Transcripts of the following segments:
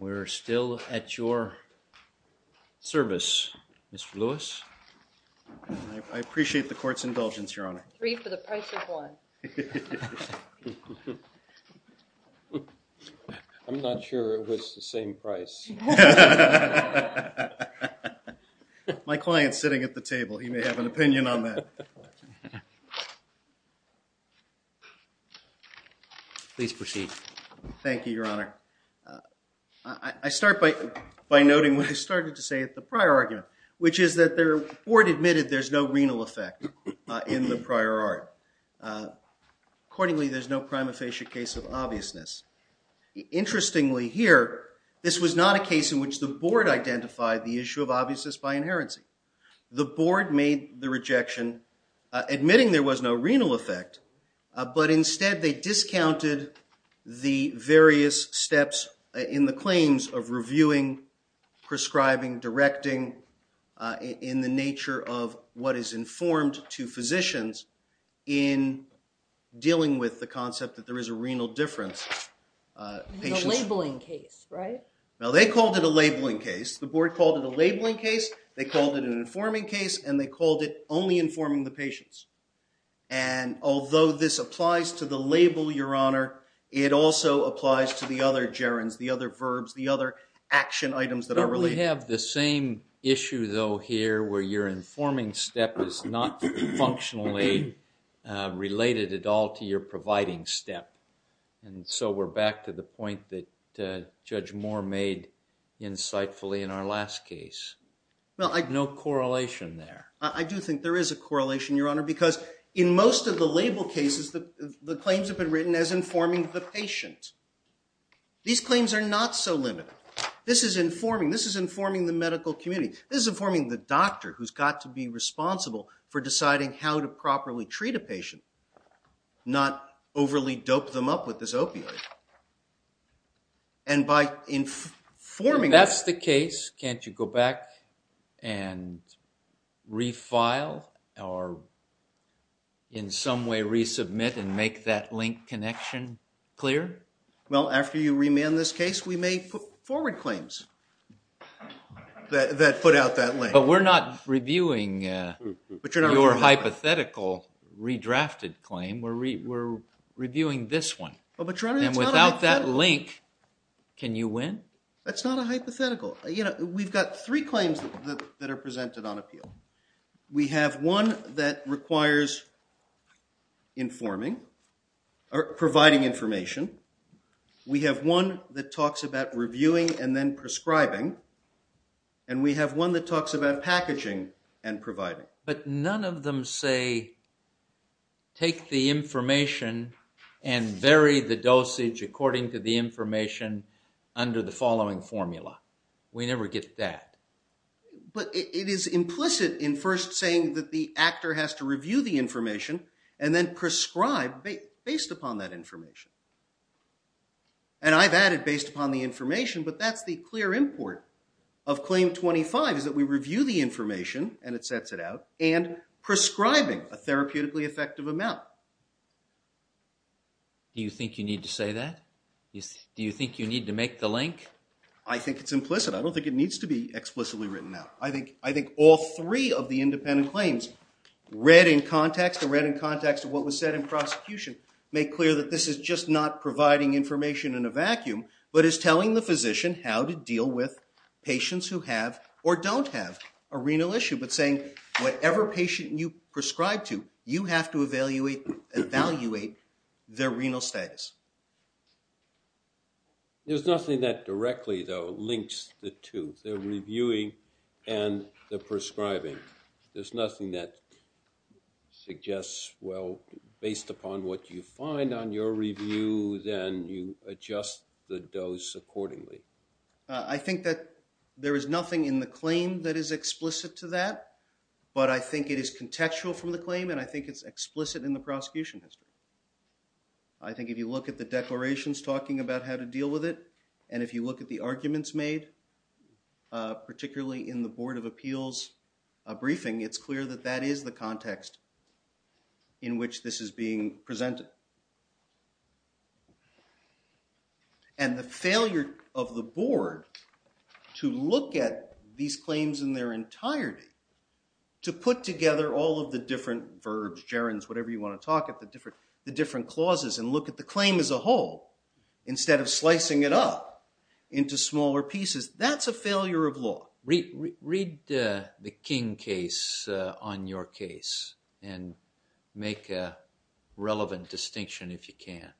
We're still at your service, Mr. Lewis. I appreciate the court's indulgence, Your Honor. Three for the price of one. I'm not sure it was the same price. My client's sitting at the table. He may have an opinion on that. Please proceed. Thank you, Your Honor. I start by noting what I started to say at the prior argument, which is that the court admitted there's no renal effect in the prior art. Accordingly, there's no prima facie case of obviousness. Interestingly here, this was not a case in which the board identified the issue of obviousness by inherency. The board made the rejection, admitting there was no renal effect, but instead they discounted the various steps in the claims of reviewing, prescribing, directing, in the nature of what is informed to physicians in dealing with the concept that there is a renal difference. A labeling case, right? Now, they called it a labeling case. The board called it a labeling case. They called it an informing case, and they called it only informing the patients. And although this applies to the label, Your Honor, it also applies to the other gerunds, the other verbs, the other action items that are related. You have the same issue, though, here, where you're informing step is not functionally related at all to your providing step. And so we're back to the point that Judge Moore made insightfully in our last case. No correlation there. I do think there is a correlation, Your Honor, because in most of the label cases, the claims have been written as informing the patient. These claims are not so limited. This is informing. This is informing the medical community. This is informing the doctor who's got to be responsible for deciding how to properly treat a patient, not overly dope them up with this opioid. And by informing... If that's the case, can't you go back and refile or in some way resubmit and make that link connection clear? Well, after you remand this case, we may forward claims that put out that link. But we're not reviewing your hypothetical redrafted claim. We're reviewing this one. And without that link, can you win? That's not a hypothetical. You know, we've got three claims that are presented on appeal. We have one that requires informing or providing information. We have one that talks about reviewing and then prescribing. And we have one that talks about packaging and providing. But none of them say take the information and vary the dosage according to the information under the following formula. We never get that. But it is implicit in first saying that the actor has to review the information and then prescribe based upon that information. And I've added based upon the information, but that's the clear import of Claim 25, is that we review the information, and it sets it out, and prescribing a therapeutically effective amount. Do you think you need to say that? Do you think you need to make the link? I think it's implicit. I don't think it needs to be explicitly written out. I think all three of the independent claims read in context or read in context of what was said in prosecution make clear that this is just not providing information in a vacuum, but is telling the physician how to deal with patients who have or don't have a renal issue, but saying whatever patient you prescribe to, you have to evaluate their renal status. There's nothing that directly, though, links the two, the reviewing and the prescribing. There's nothing that suggests, well, based upon what you find on your review, then you adjust the dose accordingly. I think that there is nothing in the claim that is explicit to that, but I think it is contextual from the claim, and I think it's explicit in the prosecution history. I think if you look at the declarations talking about how to deal with it, and if you look at the arguments made, particularly in the Board of Appeals briefing, it's clear that that is the context in which this is being presented. And the failure of the Board to look at these claims in their entirety, to put together all of the different verbs, gerunds, whatever you want to talk about, the different clauses, and look at the claim as a whole instead of slicing it up into smaller pieces, that's a failure of law. Read the King case on your case and make a relevant distinction if you can.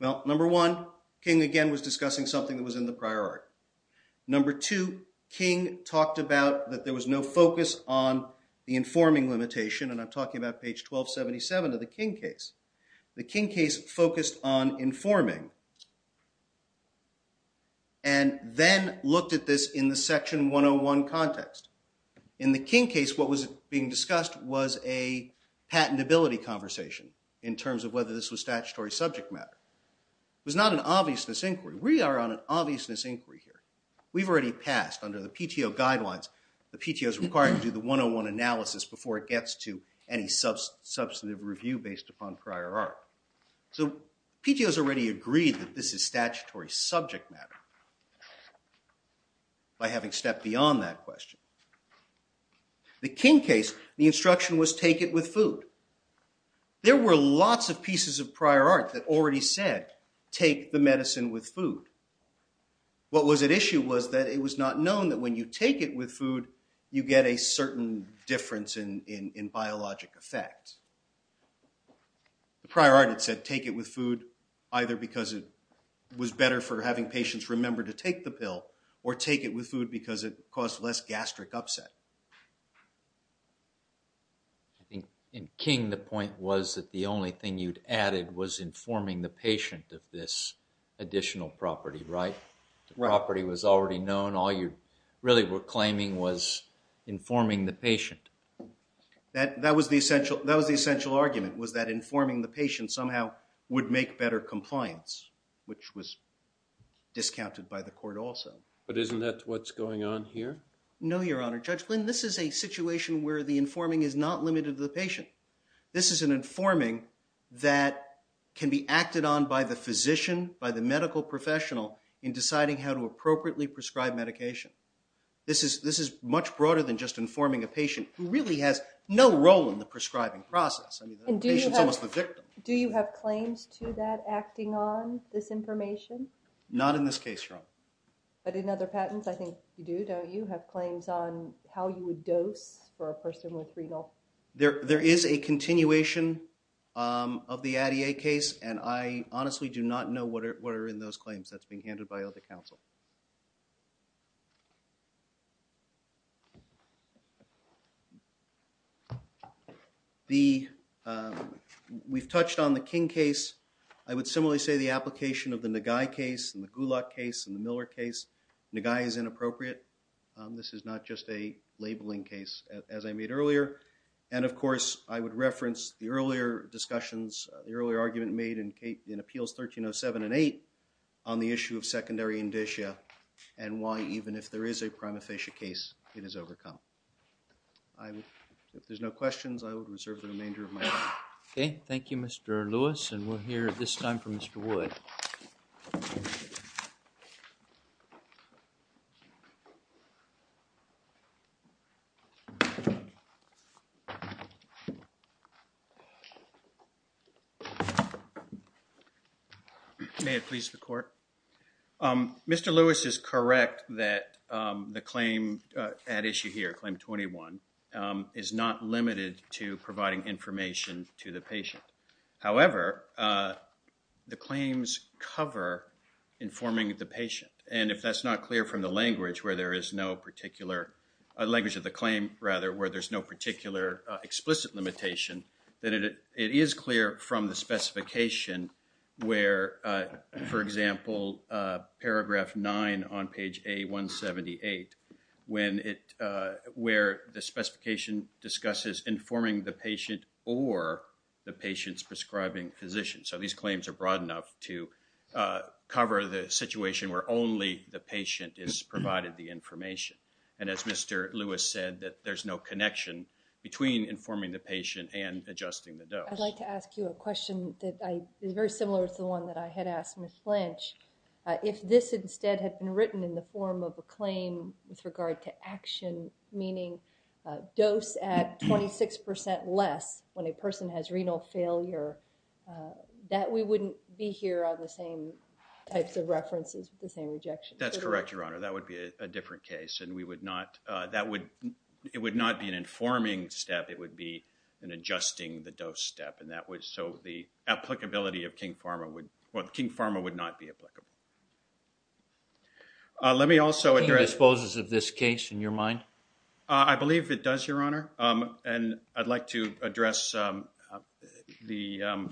Well, number one, King again was discussing something that was in the priority. Number two, King talked about that there was no focus on the informing limitation, and I'm talking about page 1277 of the King case. The King case focused on informing and then looked at this in the section 101 context. In the King case, what was being discussed was a patentability conversation in terms of whether this was statutory subject matter. It was not an obviousness inquiry. We are on an obviousness inquiry here. We've already passed under the PTO guidelines, the PTO is required to do the 101 analysis before it gets to any substantive review based upon prior art. So PTO has already agreed that this is statutory subject matter by having stepped beyond that question. The King case, the instruction was take it with food. There were lots of pieces of prior art that already said take the medicine with food. What was at issue was that it was not known that when you take it with food, you get a certain difference in biologic effect. The prior art had said take it with food either because it was better for having patients remember to take the pill or take it with food because it caused less gastric upset. I think in King the point was that the only thing you'd added was informing the patient of this additional property, right? The property was already known. All you really were claiming was informing the patient. That was the essential argument was that informing the patient somehow would make better compliance, which was discounted by the court also. But isn't that what's going on here? No, Your Honor. Judge Glynn, this is a situation where the informing is not limited to the patient. This is an informing that can be acted on by the physician, by the medical professional, in deciding how to appropriately prescribe medication. This is much broader than just informing a patient who really has no role in the prescribing process. I mean, the patient's almost the victim. Do you have claims to that acting on this information? Not in this case, Your Honor. But in other patents, I think you do, don't you? Have claims on how you would dose for a person with renal? There is a continuation of the Addie case, and I honestly do not know what are in those claims. That's being handed by other counsel. We've touched on the King case. I would similarly say the application of the Nagai case and the Gulak case and the Miller case. Nagai is inappropriate. This is not just a labeling case, as I made earlier. And, of course, I would reference the earlier discussions, the earlier argument made in appeals 1307 and 8 on the issue of secondary indicia and why even if there is a prima facie case, it is overcome. If there's no questions, I would reserve the remainder of my time. Okay. Thank you, Mr. Lewis, and we'll hear this time from Mr. Wood. May it please the Court? Mr. Lewis is correct that the claim at issue here, claim 21, is not limited to providing information to the patient. However, the claims cover informing the patient, and if that's not clear from the language where there is no particular, the language of the claim, rather, where there's no particular explicit limitation, then it is clear from the specification where, for example, paragraph 9 on page A178, where the specification discusses informing the patient or the patient's prescribing physician. So these claims are broad enough to cover the situation where only the patient is provided the information. And as Mr. Lewis said, that there's no connection between informing the patient and adjusting the dose. I'd like to ask you a question that is very similar to the one that I had asked Ms. Blanche. If this instead had been written in the form of a claim with regard to action, meaning dose at 26% less when a person has renal failure, that we wouldn't be here on the same types of references with the same rejection. That's correct, Your Honor. That would be a different case, and we would not, that would, it would not be an informing step. It would be an adjusting the dose step, and that would, so the applicability of King-Pharma would, well, King-Pharma would not be applicable. Let me also address- King disposes of this case, in your mind? I believe it does, Your Honor. And I'd like to address the,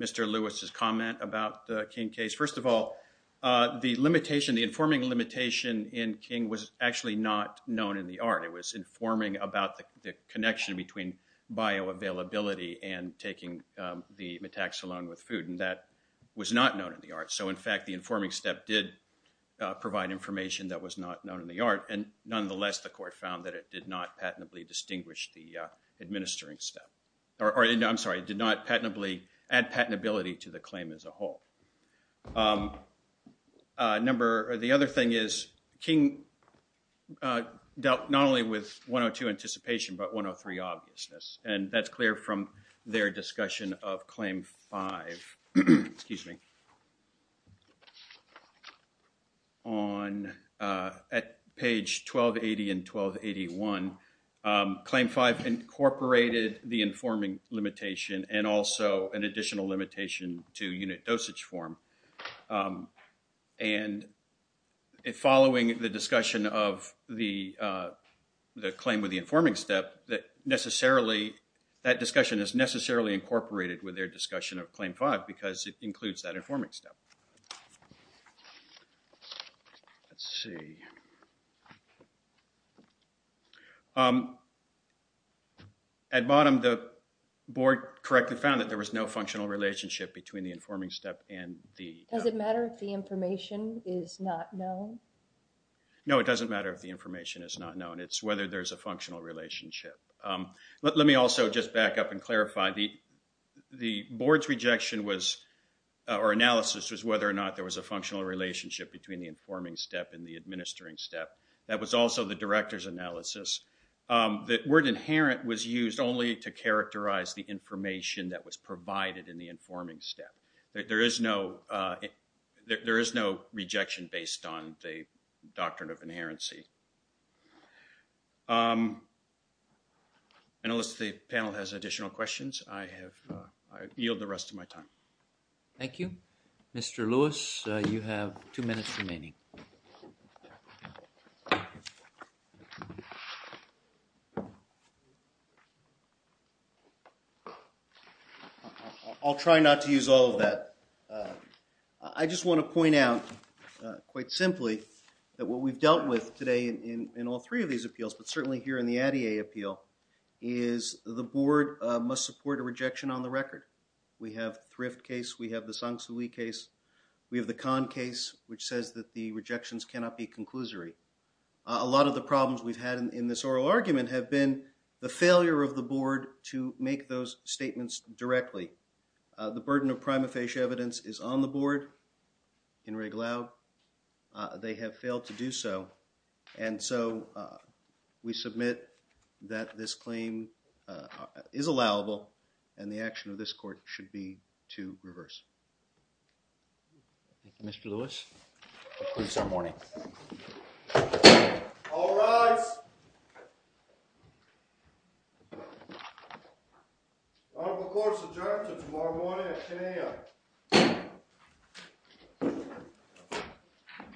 Mr. Lewis's comment about the King case. First of all, the limitation, the informing limitation in King was actually not known in the art. It was informing about the connection between bioavailability and taking the Metaxilone with food, and that was not known in the art. So, in fact, the informing step did provide information that was not known in the art, and nonetheless the court found that it did not patently distinguish the administering step. Or, I'm sorry, did not patently add patentability to the claim as a whole. Number, the other thing is King dealt not only with 102 anticipation, but 103 obviousness, and that's clear from their discussion of Claim 5. Excuse me. On, at page 1280 and 1281, Claim 5 incorporated the informing limitation and also an additional limitation to unit dosage form. And following the discussion of the claim with the informing step, that necessarily, that discussion is necessarily incorporated with their discussion of Claim 5 because it includes that informing step. Let's see. At bottom, the board correctly found that there was no functional relationship between the informing step and the... Does it matter if the information is not known? No, it doesn't matter if the information is not known. It's whether there's a functional relationship. Let me also just back up and clarify. The board's rejection was, or analysis, was whether or not there was a functional relationship between the informing step and the administering step. That was also the director's analysis. The word inherent was used only to characterize the information that was provided in the informing step. There is no rejection based on the doctrine of inherency. I notice the panel has additional questions. I yield the rest of my time. Thank you. Mr. Lewis, you have two minutes remaining. I'll try not to use all of that. I just want to point out, quite simply, that what we've dealt with today in all three of these appeals, but certainly here in the Addie A appeal, is the board must support a rejection on the record. We have the Thrift case. We have the Sang-Soo Lee case. We have the Kahn case, which says that the rejections cannot be conclusory. A lot of the problems we've had in this oral argument have been the failure of the board to make those statements directly. The burden of prima facie evidence is on the board. They have failed to do so. And so we submit that this claim is allowable, and the action of this court should be to reverse. Thank you, Mr. Lewis. That concludes our morning. All rise. Court is adjourned until tomorrow morning at 10 a.m.